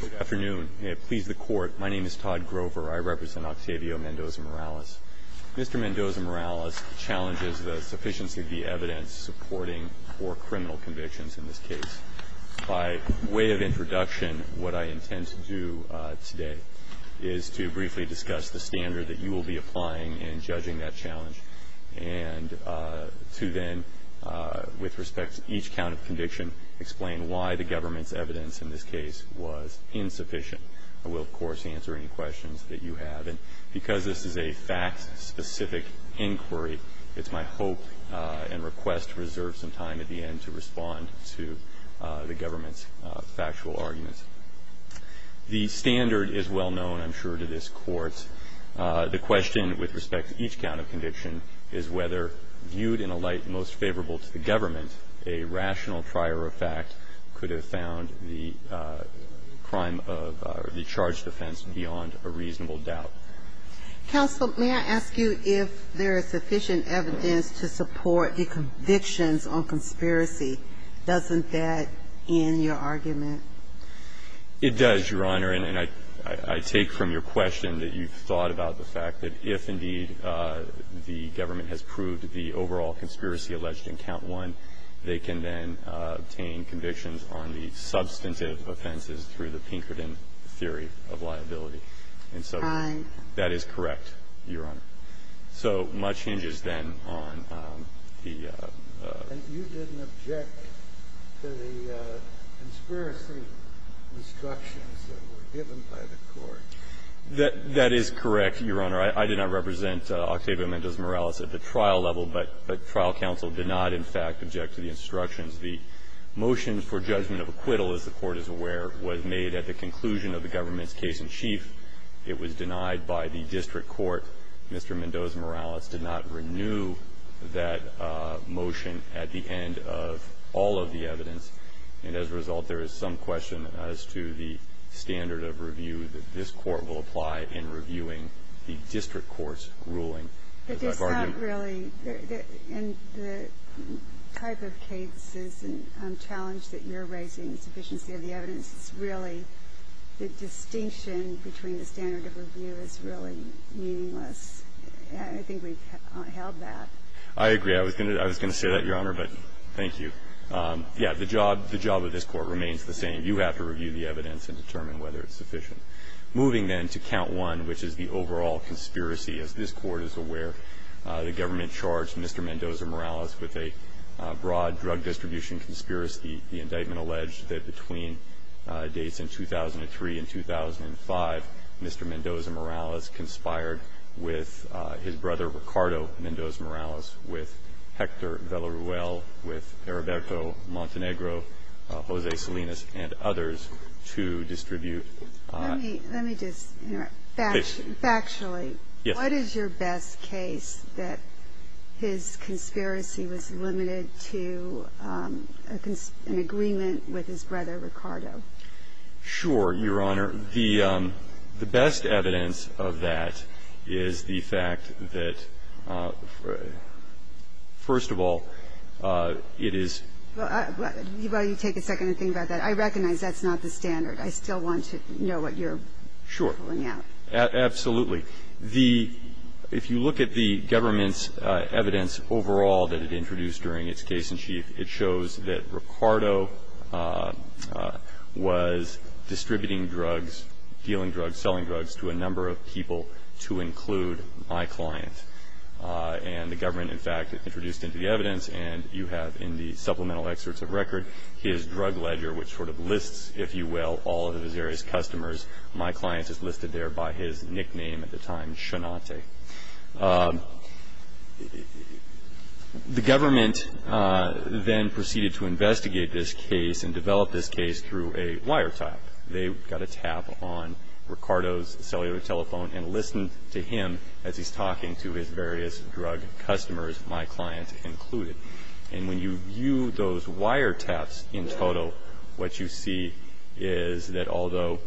Good afternoon. Please, the Court, my name is Todd Grover. I represent Octavio Mendoza-Morales. Mr. Mendoza-Morales challenges the sufficiency of the evidence supporting four criminal convictions in this case. By way of introduction, what I intend to do today is to briefly discuss the standard that you will be applying in judging that challenge and to then, with respect to each count of conviction, explain why the government's evidence in this case was insufficient. I will, of course, answer any questions that you have, and because this is a fact-specific inquiry, it's my hope and request to reserve some time at the end to respond to the government's factual arguments. The standard is well known, I'm sure, to this Court. The question with respect to each count of conviction is whether, viewed in a light most favorable to the government, a rational prior effect could have found the crime of the charged offense beyond a reasonable doubt. Counsel, may I ask you if there is sufficient evidence to support the convictions on conspiracy? Doesn't that end your argument? It does, Your Honor, and I take from your question that you've thought about the fact that if, indeed, the government has proved the overall conspiracy alleged in Count 1, they can then obtain convictions on the substantive offenses through the Pinkerton theory of liability. And so that is correct, Your Honor. So much hinges, then, on the ---- And you didn't object to the conspiracy instructions that were given by the Court. That is correct, Your Honor. I did not represent Octavio Mendoza-Morales at the trial level, but trial counsel did not, in fact, object to the instructions. The motion for judgment of acquittal, as the Court is aware, was made at the conclusion of the government's case-in-chief. It was denied by the district court. Mr. Mendoza-Morales did not renew that motion at the end of all of the evidence. And as a result, there is some question as to the standard of review that this Court will apply in reviewing the district court's ruling. But it's not really the type of cases and challenge that you're raising, the sufficiency of the evidence, it's really the distinction between the standard of review is really meaningless. I think we've held that. I agree. I was going to say that, Your Honor, but thank you. Yes. The job of this Court remains the same. You have to review the evidence and determine whether it's sufficient. Moving, then, to count one, which is the overall conspiracy. As this Court is aware, the government charged Mr. Mendoza-Morales with a broad drug distribution conspiracy. The indictment alleged that between dates in 2003 and 2005, Mr. Mendoza-Morales conspired with his brother, Ricardo Mendoza-Morales, with Hector Velarruel, with Heriberto Montenegro, Jose Salinas, and others to distribute. Let me just interrupt. Factually, what is your best case that his conspiracy was limited to a conspiracy in agreement with his brother, Ricardo? Sure, Your Honor. The best evidence of that is the fact that, first of all, it is ---- Well, you take a second and think about that. I recognize that's not the standard. I still want to know what you're pulling out. Sure. Absolutely. The ---- if you look at the government's evidence overall that it introduced during its case-in-chief, it shows that Ricardo was distributing drugs, dealing drugs, selling drugs to a number of people to include my client. And the government, in fact, introduced into the evidence, and you have in the supplemental excerpts of record his drug ledger, which sort of lists, if you will, all of his various customers. My client is listed there by his nickname at the time, Shenate. The government then proceeded to investigate this case and develop this case through a wiretap. They got a tap on Ricardo's cellular telephone and listened to him as he's talking to his various drug customers, my client included. And when you view those wiretaps in total, what you see is that although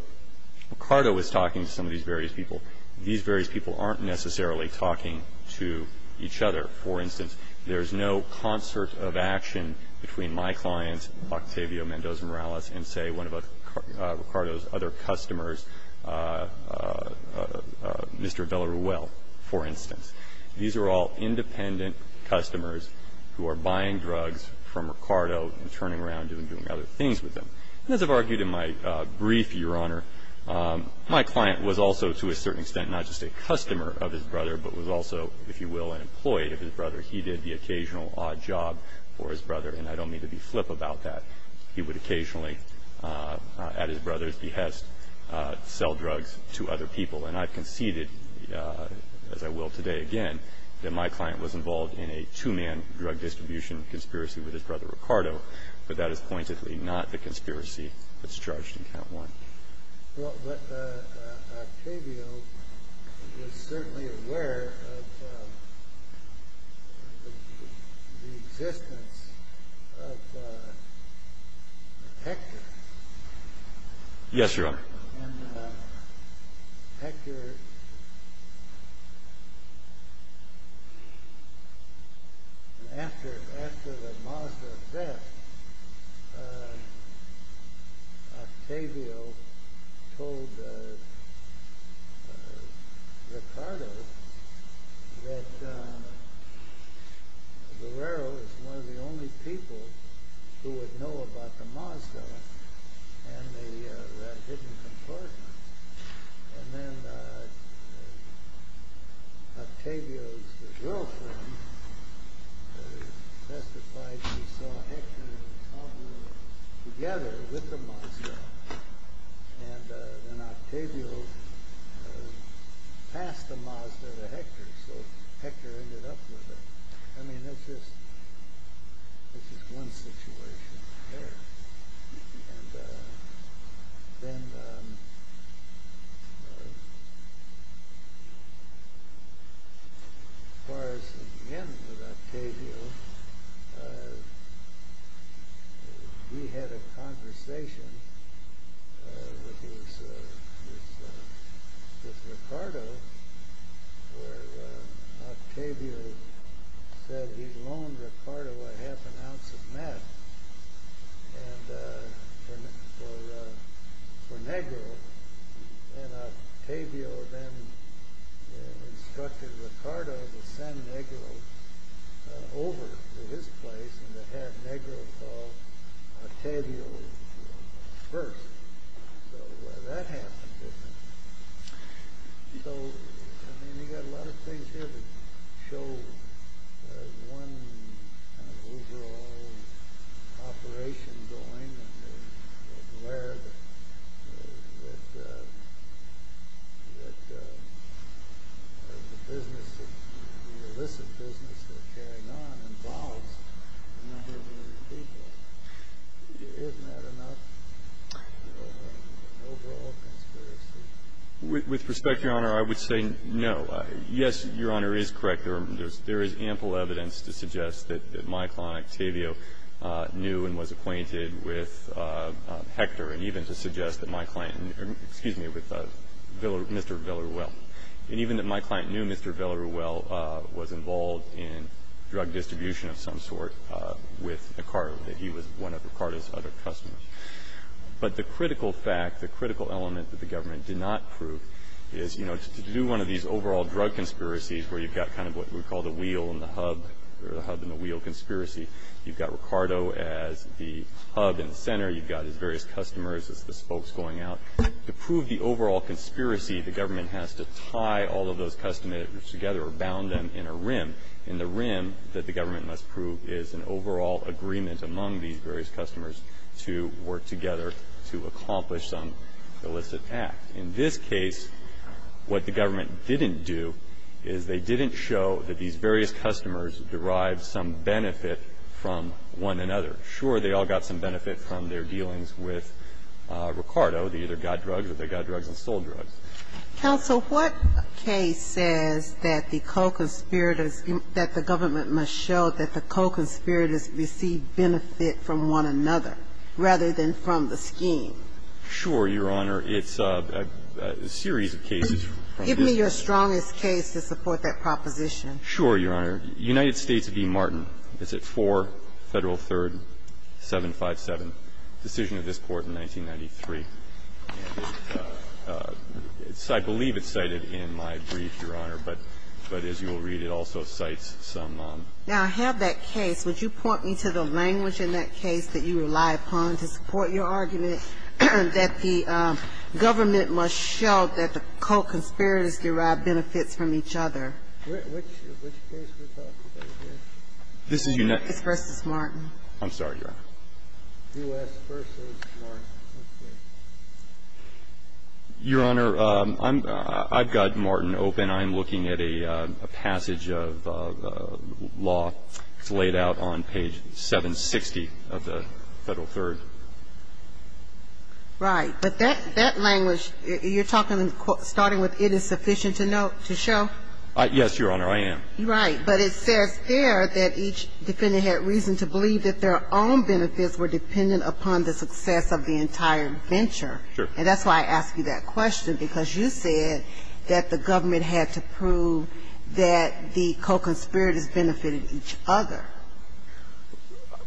Ricardo was talking to some of these various people, these various people aren't necessarily talking to each other. For instance, there's no concert of action between my client, Octavio Mendoza Morales, and, say, one of Ricardo's other customers, Mr. Vela Ruel, for instance. These are all independent customers who are buying drugs from Ricardo and turning around and doing other things with them. And as I've argued in my brief, Your Honor, my client was also, to a certain extent, not just a customer of his brother, but was also, if you will, an employee of his brother. He did the occasional odd job for his brother, and I don't mean to be flip about that. He would occasionally, at his brother's behest, sell drugs to other people. And I've conceded, as I will today again, that my client was involved in a two-man drug distribution conspiracy with his brother Ricardo, but that is pointedly not the conspiracy that's charged in Count 1. Well, but Octavio was certainly aware of the existence of Hector. Yes, Your Honor. And Hector, after the Mazda theft, Octavio told Ricardo that Guerrero was one of the And they were in a hidden compartment. And then Octavio's girlfriend testified that she saw Hector and Ricardo together with the Mazda. And then Octavio passed the Mazda to Hector, so Hector ended up with her. I mean, that's just one situation there. And then, as far as the beginning with Octavio, we had a conversation with Ricardo where Octavio said he'd loan Ricardo a half an ounce of meth for Negro. And Octavio then instructed Ricardo to send Negro over to his place and to have Negro call Octavio first. So that happened. So, I mean, you've got a lot of things here that show one kind of overall operation going and where the business, the illicit business they're carrying on involves a number of people. Isn't that enough, an overall conspiracy? With respect, Your Honor, I would say no. Yes, Your Honor, it is correct. There is ample evidence to suggest that my client Octavio knew and was acquainted with Hector and even to suggest that my client knew Mr. Villareal. And even that my client knew Mr. Villareal was involved in drug distribution of some sort with Ricardo, that he was one of Ricardo's other customers. But the critical fact, the critical element that the government did not prove is, you know, to do one of these overall drug conspiracies where you've got kind of what we call the wheel and the hub or the hub and the wheel conspiracy. You've got Ricardo as the hub and the center. You've got his various customers as the spokes going out. To prove the overall conspiracy, the government has to tie all of those customers together or bound them in a rim. And the rim that the government must prove is an overall agreement among these various customers to work together to accomplish some illicit act. In this case, what the government didn't do is they didn't show that these various customers derived some benefit from one another. Sure, they all got some benefit from their dealings with Ricardo. They either got drugs or they got drugs and sold drugs. Counsel, what case says that the co-conspirators, that the government must show that the co-conspirators received benefit from one another rather than from the scheme? Sure, Your Honor. It's a series of cases. Give me your strongest case to support that proposition. Sure, Your Honor. United States v. Martin. It's at 4 Federal 3rd 757. Decision of this Court in 1993. And it's – I believe it's cited in my brief, Your Honor. But as you will read, it also cites some – Now, I have that case. Would you point me to the language in that case that you rely upon to support your argument that the government must show that the co-conspirators derived benefits from each other? Which case are we talking about here? This is United States v. Martin. I'm sorry, Your Honor. U.S. v. Martin. Your Honor, I've got Martin open. I'm looking at a passage of law laid out on page 760 of the Federal 3rd. Right. But that language, you're talking – starting with it is sufficient to show? Yes, Your Honor, I am. Right. But it says there that each defendant had reason to believe that their own benefits were dependent upon the success of the entire venture. Sure. And that's why I asked you that question, because you said that the government had to prove that the co-conspirators benefited each other.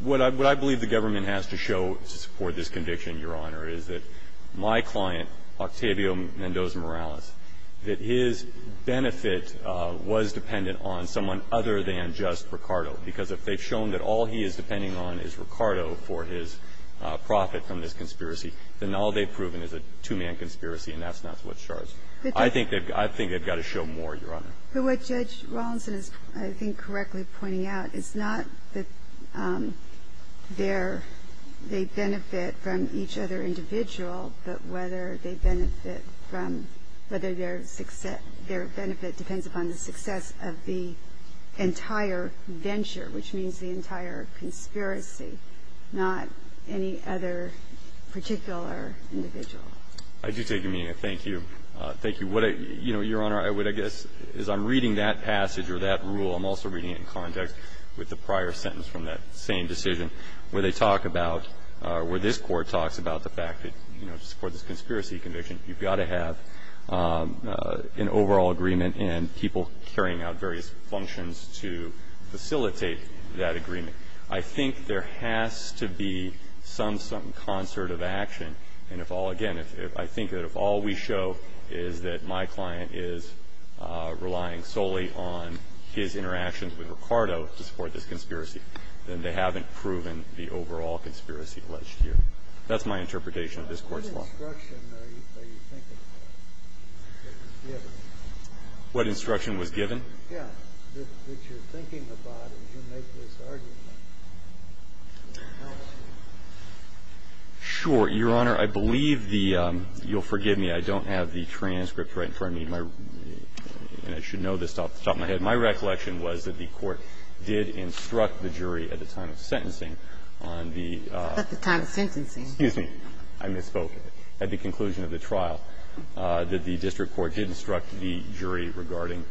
What I believe the government has to show to support this conviction, Your Honor, is that my client, Octavio Mendoza Morales, that his benefit was dependent on someone other than just Ricardo. Because if they've shown that all he is depending on is Ricardo for his profit from this conspiracy, then all they've proven is a two-man conspiracy, and that's not what's charged. I think they've got to show more, Your Honor. But what Judge Rawlinson is, I think, correctly pointing out is not that their benefit from each other individual, but whether they benefit from – whether their benefit depends upon the success of the entire venture, which means the entire conspiracy, not any other particular individual. I do take your meaning of thank you. Thank you. You know, Your Honor, what I guess is I'm reading that passage or that rule. I'm also reading it in context with the prior sentence from that same decision where they talk about – where this Court talks about the fact that, you know, to support this conspiracy conviction, you've got to have an overall agreement and people carrying out various functions to facilitate that agreement. I think there has to be some sort of concert of action, and if all – again, I think that if all we show is that my client is relying solely on his interactions with Ricardo to support this conspiracy, then they haven't proven the overall conspiracy alleged here. That's my interpretation of this Court's law. What instruction are you thinking that was given? What instruction was given? Yeah. That you're thinking about and you make this argument. And it helps you. Sure. Your Honor, I believe the – you'll forgive me. I don't have the transcript right in front of me. And I should know this off the top of my head. My recollection was that the Court did instruct the jury at the time of sentencing on the – At the time of sentencing. Excuse me. I misspoke. At the conclusion of the trial, that the district court did instruct the jury regarding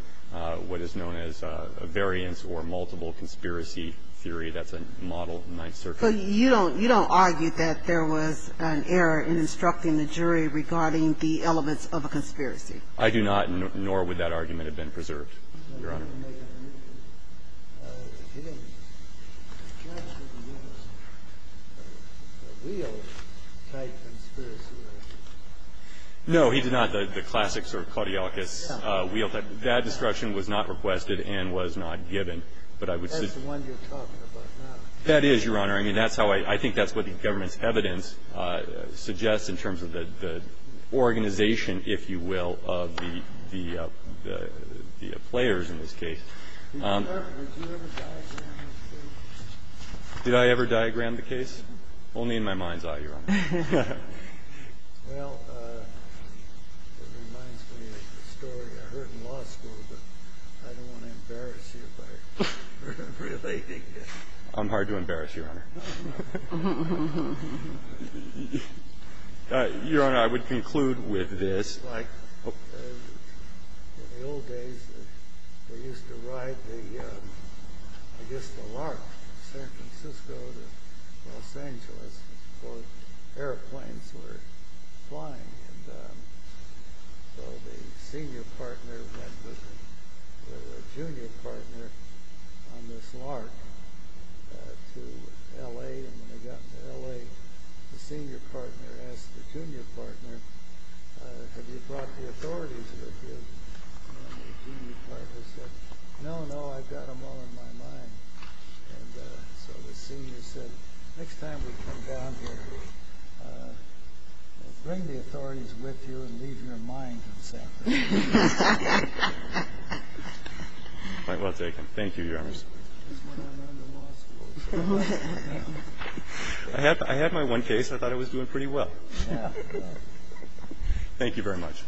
what is known as a variance or multiple conspiracy theory. That's a Model Ninth Circuit. But you don't – you don't argue that there was an error in instructing the jury regarding the elements of a conspiracy. I do not, nor would that argument have been preserved, Your Honor. But you don't make a new opinion. The judge didn't use the wheel type conspiracy theory. No, he did not. The classic sort of Claudiolus wheel type. That instruction was not requested and was not given. But I would suggest – That's the one you're talking about now. That is, Your Honor. I mean, that's how I – I think that's what the government's evidence suggests in terms of the organization, if you will, of the players in this case. Did you ever diagram the case? Did I ever diagram the case? Only in my mind's eye, Your Honor. Well, it reminds me of a story I heard in law school, but I don't want to embarrass you by relating it. I'm hard to embarrass, Your Honor. Your Honor, I would conclude with this. It's like in the old days, they used to ride the, I guess, the LARC from San Francisco to Los Angeles before airplanes were flying. And so the senior partner went with a junior partner on this LARC to L.A. And when they got to L.A., the senior partner asked the junior partner, have you brought the authorities with you? And the junior partner said, no, no, I've got them all in my mind. And so the senior said, next time we come down here, bring the authorities with you and leave your mind in San Francisco. Quite well taken. Thank you, Your Honor. That's when I learned in law school. I had my one case. I thought I was doing pretty well. Thank you very much.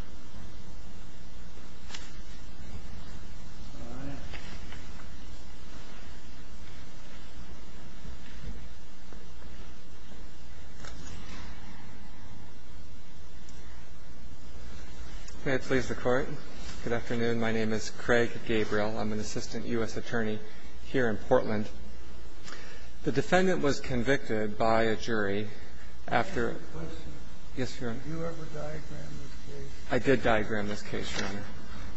May it please the Court. Good afternoon. My name is Craig Gabriel. I'm an assistant U.S. attorney here in Portland. The defendant was convicted by a jury after ---- I have a question. Yes, Your Honor. Did you ever diagram this case? I did diagram this case, Your Honor.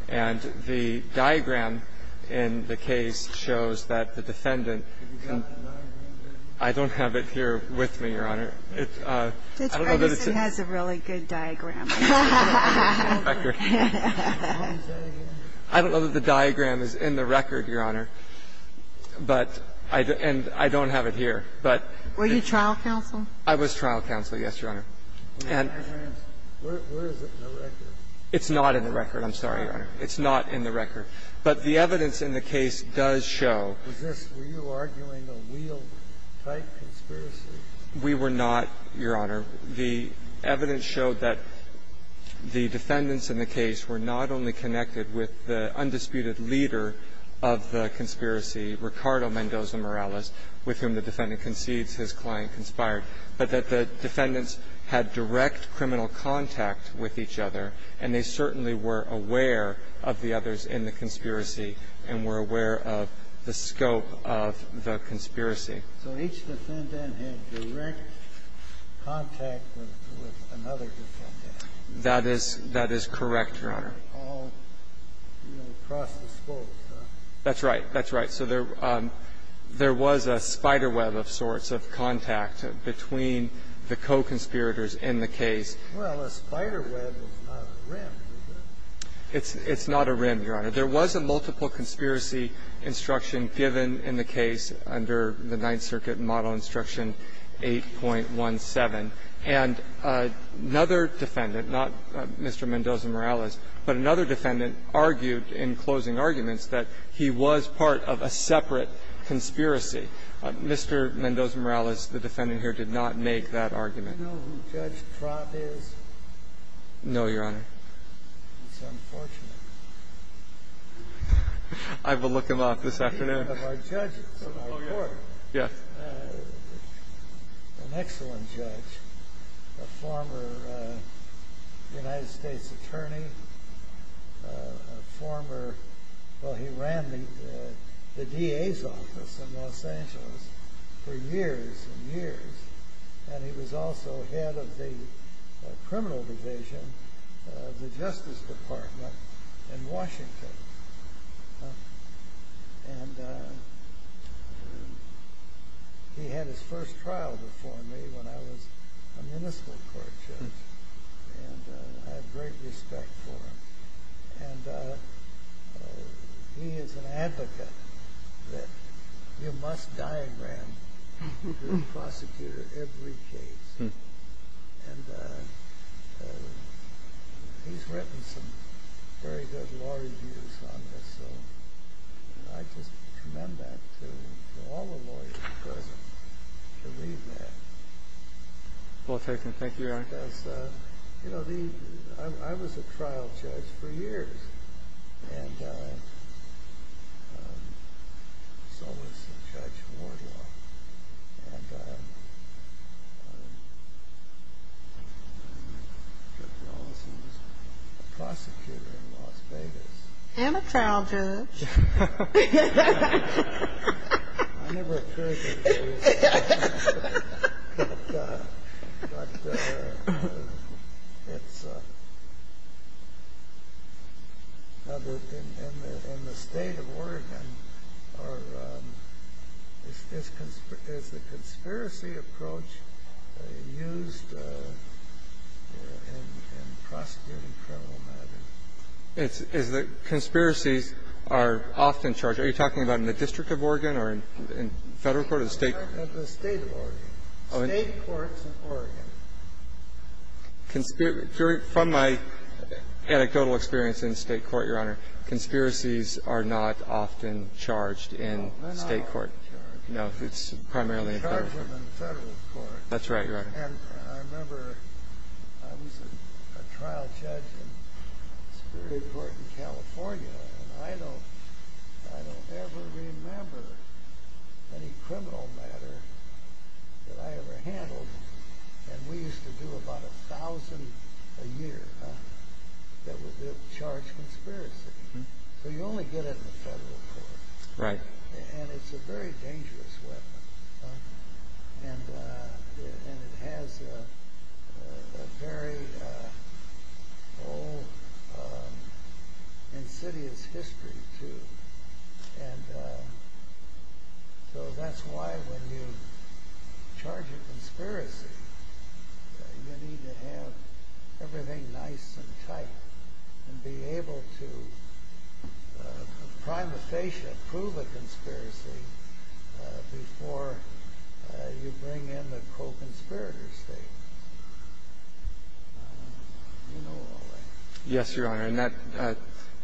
And the diagram in the case shows that the defendant ---- Have you got the diagram? I don't have it here with me, Your Honor. Judge Ferguson has a really good diagram. I don't know that the diagram is in the record, Your Honor. But ---- and I don't have it here. But ---- Were you trial counsel? I was trial counsel, yes, Your Honor. And ---- Where is it in the record? It's not in the record. I'm sorry, Your Honor. It's not in the record. But the evidence in the case does show ---- Was this ---- were you arguing a wheel-type conspiracy? We were not, Your Honor. The evidence showed that the defendants in the case were not only connected with the undisputed leader of the conspiracy, Ricardo Mendoza Morales, with whom the defendant concedes his client conspired, but that the defendants had direct criminal contact with each other, and they certainly were aware of the others in the conspiracy and were aware of the scope of the conspiracy. So each defendant had direct contact with another defendant. That is correct, Your Honor. All across the scope. That's right. That's right. So there was a spiderweb of sorts of contact between the co-conspirators in the case. Well, a spiderweb is not a rim, is it? It's not a rim, Your Honor. There was a multiple conspiracy instruction given in the case under the Ninth Circuit model instruction 8.17, and another defendant, not Mr. Mendoza Morales, but another defendant argued in closing arguments that he was part of a separate conspiracy. Mr. Mendoza Morales, the defendant here, did not make that argument. Do you know who Judge Trott is? No, Your Honor. It's unfortunate. I will look him up this afternoon. He's one of our judges in our court. Yes. An excellent judge, a former United States attorney, a former – well, he ran the DA's office in Los Angeles for years and years, and he was also head of the Justice Department in Washington. And he had his first trial before me when I was a municipal court judge, and I have great respect for him. And he is an advocate that you must diagram every prosecutor, every case. And he's written some very good law reviews on this, so I just commend that to all the lawyers present to read that. Well taken. Thank you, Your Honor. Because, you know, I was a trial judge for years, and so was Judge Wardlaw. And Judge Morales, he was a prosecutor in Las Vegas. And a trial judge. I never heard that phrase. But it's another thing. In the state of Oregon, is the conspiracy approach used in prosecuting criminal matters? It's that conspiracies are often charged. Are you talking about in the District of Oregon or in Federal court or the State? The State of Oregon. State courts in Oregon. From my anecdotal experience in State court, Your Honor, conspiracies are not often charged in State court. No, they're not often charged. No, it's primarily in Federal court. They're charged in Federal court. That's right, Your Honor. And I remember I was a trial judge in a Superior Court in California. And I don't ever remember any criminal matter that I ever handled. And we used to do about 1,000 a year that were charged conspiracy. So you only get it in the Federal court. Right. And it's a very dangerous weapon. And it has a very old, insidious history, too. And so that's why when you charge a conspiracy, you need to have everything nice and tight and be able to prima facie prove a conspiracy before you bring in the co-conspirator statement. You know all that. Yes, Your Honor. And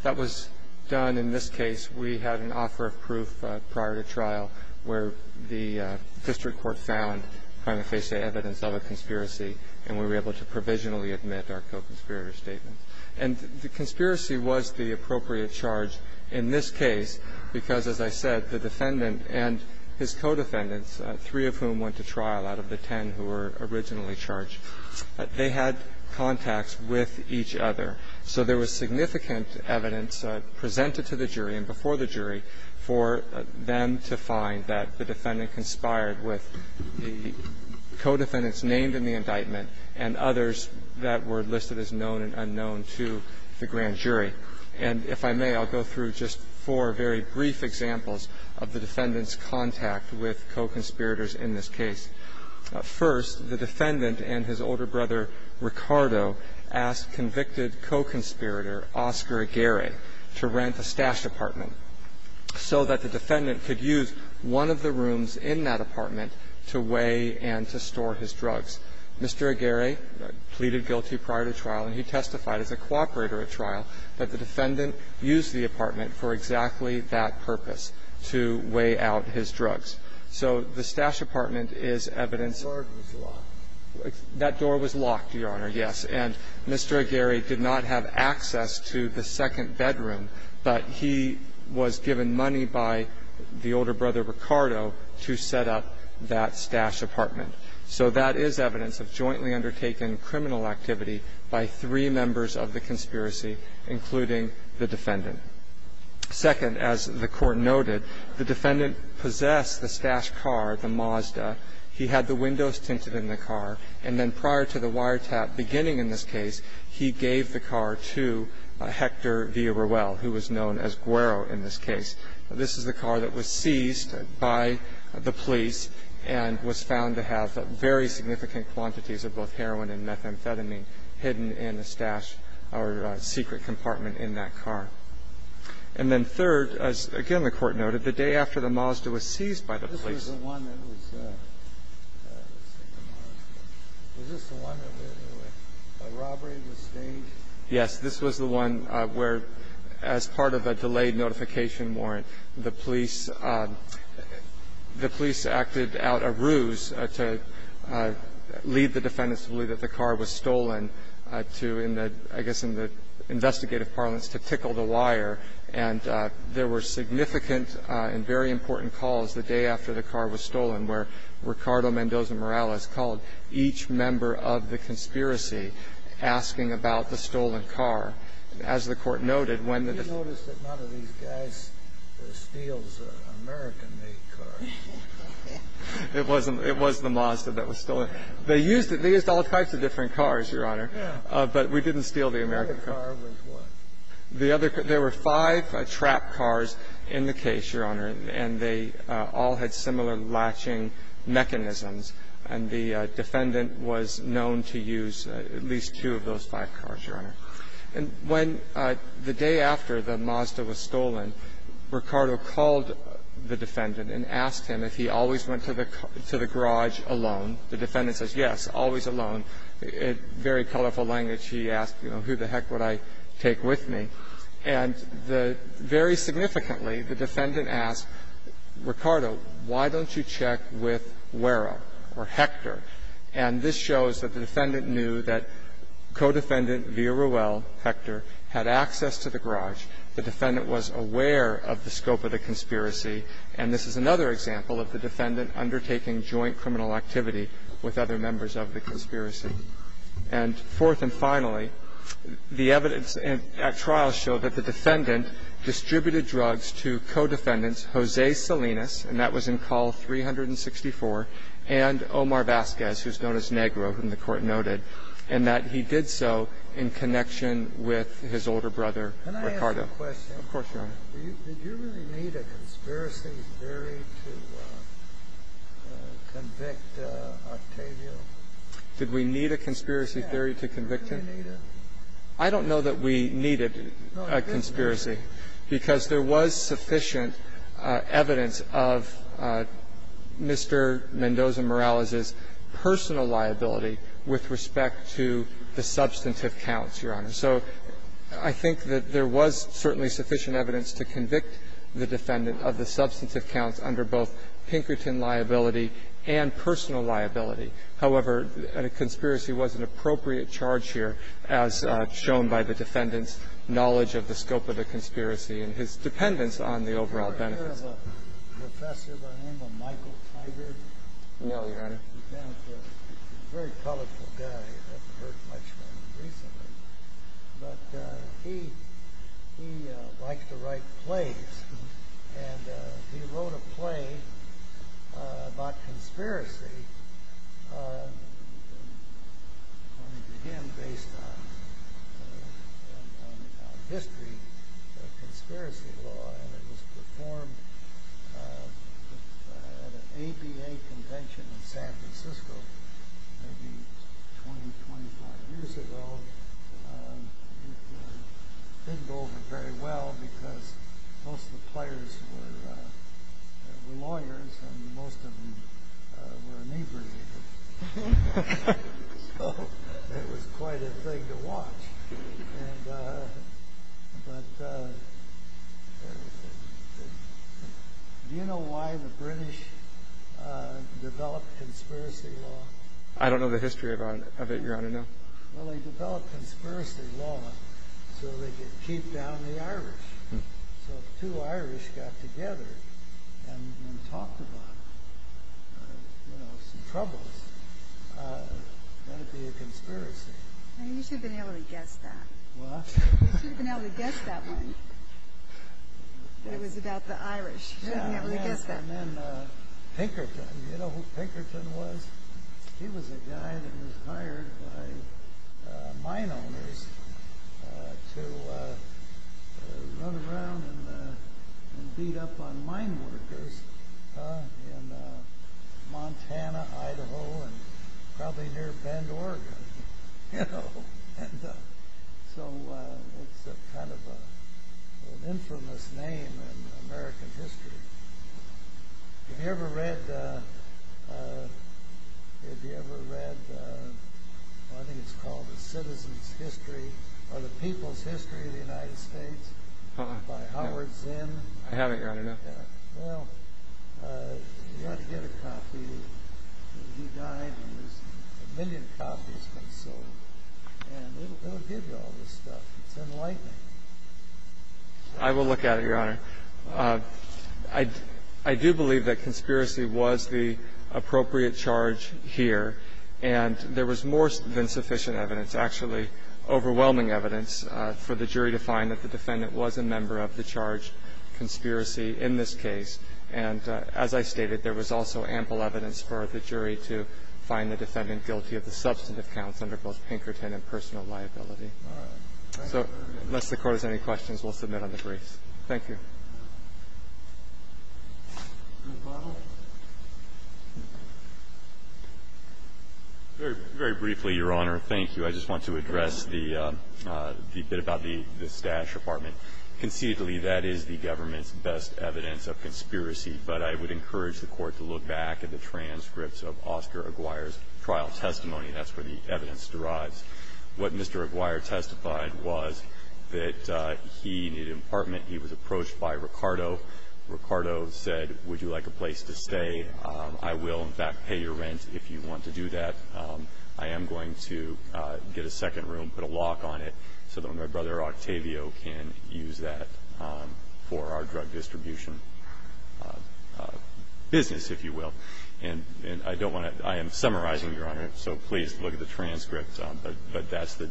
that was done in this case. We had an offer of proof prior to trial where the district court found prima facie evidence of a conspiracy, and we were able to provisionally admit our co-conspirator statement. And the conspiracy was the appropriate charge in this case because, as I said, the defendant and his co-defendants, three of whom went to trial out of the ten who were originally charged, they had contacts with each other. So there was significant evidence presented to the jury and before the jury for them to find that the defendant conspired with the co-defendants named in the indictment and others that were listed as known and unknown to the grand jury. And if I may, I'll go through just four very brief examples of the defendant's contact with co-conspirators in this case. First, the defendant and his older brother, Ricardo, asked convicted co-conspirator Oscar Aguirre to rent a stash apartment so that the defendant could use one of the rooms in that apartment to weigh and to store his drugs. Mr. Aguirre pleaded guilty prior to trial, and he testified as a cooperator at trial that the defendant used the apartment for exactly that purpose, to weigh out his drugs. So the stash apartment is evidence of that. That door was locked, Your Honor, yes. And Mr. Aguirre did not have access to the second bedroom, but he was given money by the older brother, Ricardo, to set up that stash apartment. So that is evidence of jointly undertaken criminal activity by three members of the conspiracy, including the defendant. Second, as the Court noted, the defendant possessed the stash car, the Mazda. He had the windows tinted in the car. And then prior to the wiretap beginning in this case, he gave the car to Hector Villarreal, who was known as Guero in this case. This is the car that was seized by the police and was found to have very significant quantities of both heroin and methamphetamine hidden in the stash or secret compartment in that car. And then third, as again the Court noted, the day after the Mazda was seized by the police, the police acted out a ruse to lead the defendants to believe that the car was stolen to, I guess, in the investigative parlance, to tickle the wire. And there were significant and very important calls the day after the car was stolen Ricardo Mendoza-Morales called each member of the conspiracy asking about the stolen car. As the Court noted, when the defendant ---- You noticed that none of these guys steals American-made cars. It wasn't the Mazda that was stolen. They used it. They used all types of different cars, Your Honor. Yeah. But we didn't steal the American car. The other car was what? The other car ---- there were five trapped cars in the case, Your Honor, and they all had similar latching mechanisms. And the defendant was known to use at least two of those five cars, Your Honor. And when the day after the Mazda was stolen, Ricardo called the defendant and asked him if he always went to the garage alone. The defendant says, yes, always alone. In very colorful language, he asked, you know, who the heck would I take with me. And the ---- very significantly, the defendant asked, Ricardo, why don't you check with Guerra or Hector? And this shows that the defendant knew that co-defendant, Villarreal, Hector, had access to the garage. The defendant was aware of the scope of the conspiracy, and this is another example of the defendant undertaking joint criminal activity with other members of the conspiracy. And fourth and finally, the evidence at trial show that the defendant distributed drugs to co-defendants Jose Salinas, and that was in Col. 364, and Omar Vasquez, who's known as Negro, whom the Court noted, and that he did so in connection with his older brother, Ricardo. Can I ask a question? Of course, Your Honor. Did you really need a conspiracy theory to convict Octavio? Did we need a conspiracy theory to convict him? I don't know that we needed a conspiracy, because there was sufficient evidence of Mr. Mendoza-Morales's personal liability with respect to the substantive counts, Your Honor. So I think that there was certainly sufficient evidence to convict the defendant of the substantive counts under both Pinkerton liability and personal liability. However, a conspiracy was an appropriate charge here, as shown by the defendant's knowledge of the scope of the conspiracy and his dependence on the overall benefits. Have you heard of a professor by the name of Michael Tigard? No, Your Honor. He's a very colorful guy. I haven't heard much from him recently. But he likes to write plays, and he wrote a play about conspiracy, according to him, based on history of conspiracy law, and it was performed at an ABA convention in San Francisco maybe 20, 25 years ago. It didn't go over very well, because most of the players were lawyers, and most of them were inebriated. So it was quite a thing to watch. But do you know why the British developed conspiracy law? I don't know the history of it, Your Honor, no. Well, they developed conspiracy law so they could keep down the Irish. So if two Irish got together and talked about some troubles, that would be a conspiracy. You should have been able to guess that. What? You should have been able to guess that one, that it was about the Irish. You should have been able to guess that. Yeah, and then Pinkerton. Do you know who Pinkerton was? He was a guy that was hired by mine owners to run around and beat up on mine workers in Montana, Idaho, and probably near Bend, Oregon. So it's kind of an infamous name in American history. Have you ever read, I think it's called The Citizens' History, or The People's History of the United States by Howard Zinn? I haven't, Your Honor, no. Well, you ought to get a copy. He died and a million copies have been sold. And they don't give you all this stuff. It's enlightening. I will look at it, Your Honor. I do believe that conspiracy was the appropriate charge here. And there was more than sufficient evidence, actually overwhelming evidence, for the jury to find that the defendant was a member of the charged conspiracy in this case. And as I stated, there was also ample evidence for the jury to find the defendant guilty of the substantive counts under both Pinkerton and personal liability. So unless the Court has any questions, we'll submit on the briefs. Thank you. Very briefly, Your Honor, thank you. I just want to address the bit about the stash apartment. Conceitedly, that is the government's best evidence of conspiracy, but I would encourage the Court to look back at the transcripts of Oscar Aguirre's trial testimony. That's where the evidence derives. What Mr. Aguirre testified was that he needed an apartment. He was approached by Ricardo. Ricardo said, would you like a place to stay? I will, in fact, pay your rent if you want to do that. I am going to get a second room, put a lock on it, so that when my brother Octavio can use that for our drug distribution business, if you will. And I don't want to – I am summarizing, Your Honor, so please look at the transcripts. But that's the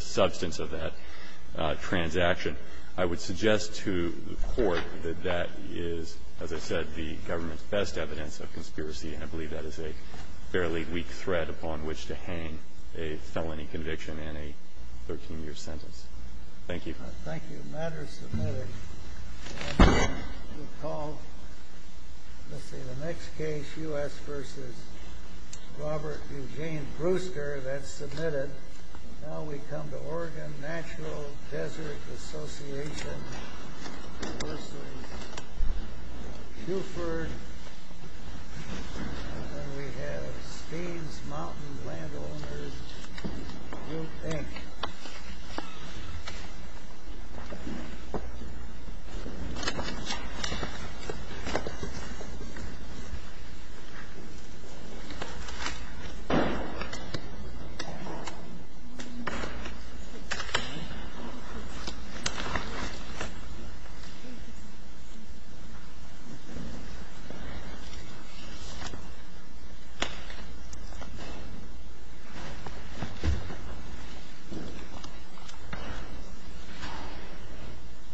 substance of that transaction. I would suggest to the Court that that is, as I said, the government's best evidence of conspiracy. I believe that is a fairly weak thread upon which to hang a felony conviction and a 13-year sentence. Thank you. Thank you. The matter is submitted. We'll call, let's see, the next case, U.S. v. Robert Eugene Brewster. That's submitted. And now we come to Oregon Natural Desert Association, U.S. v. Buford. And we have Steves Mountain Landowners. Okay. Thank you.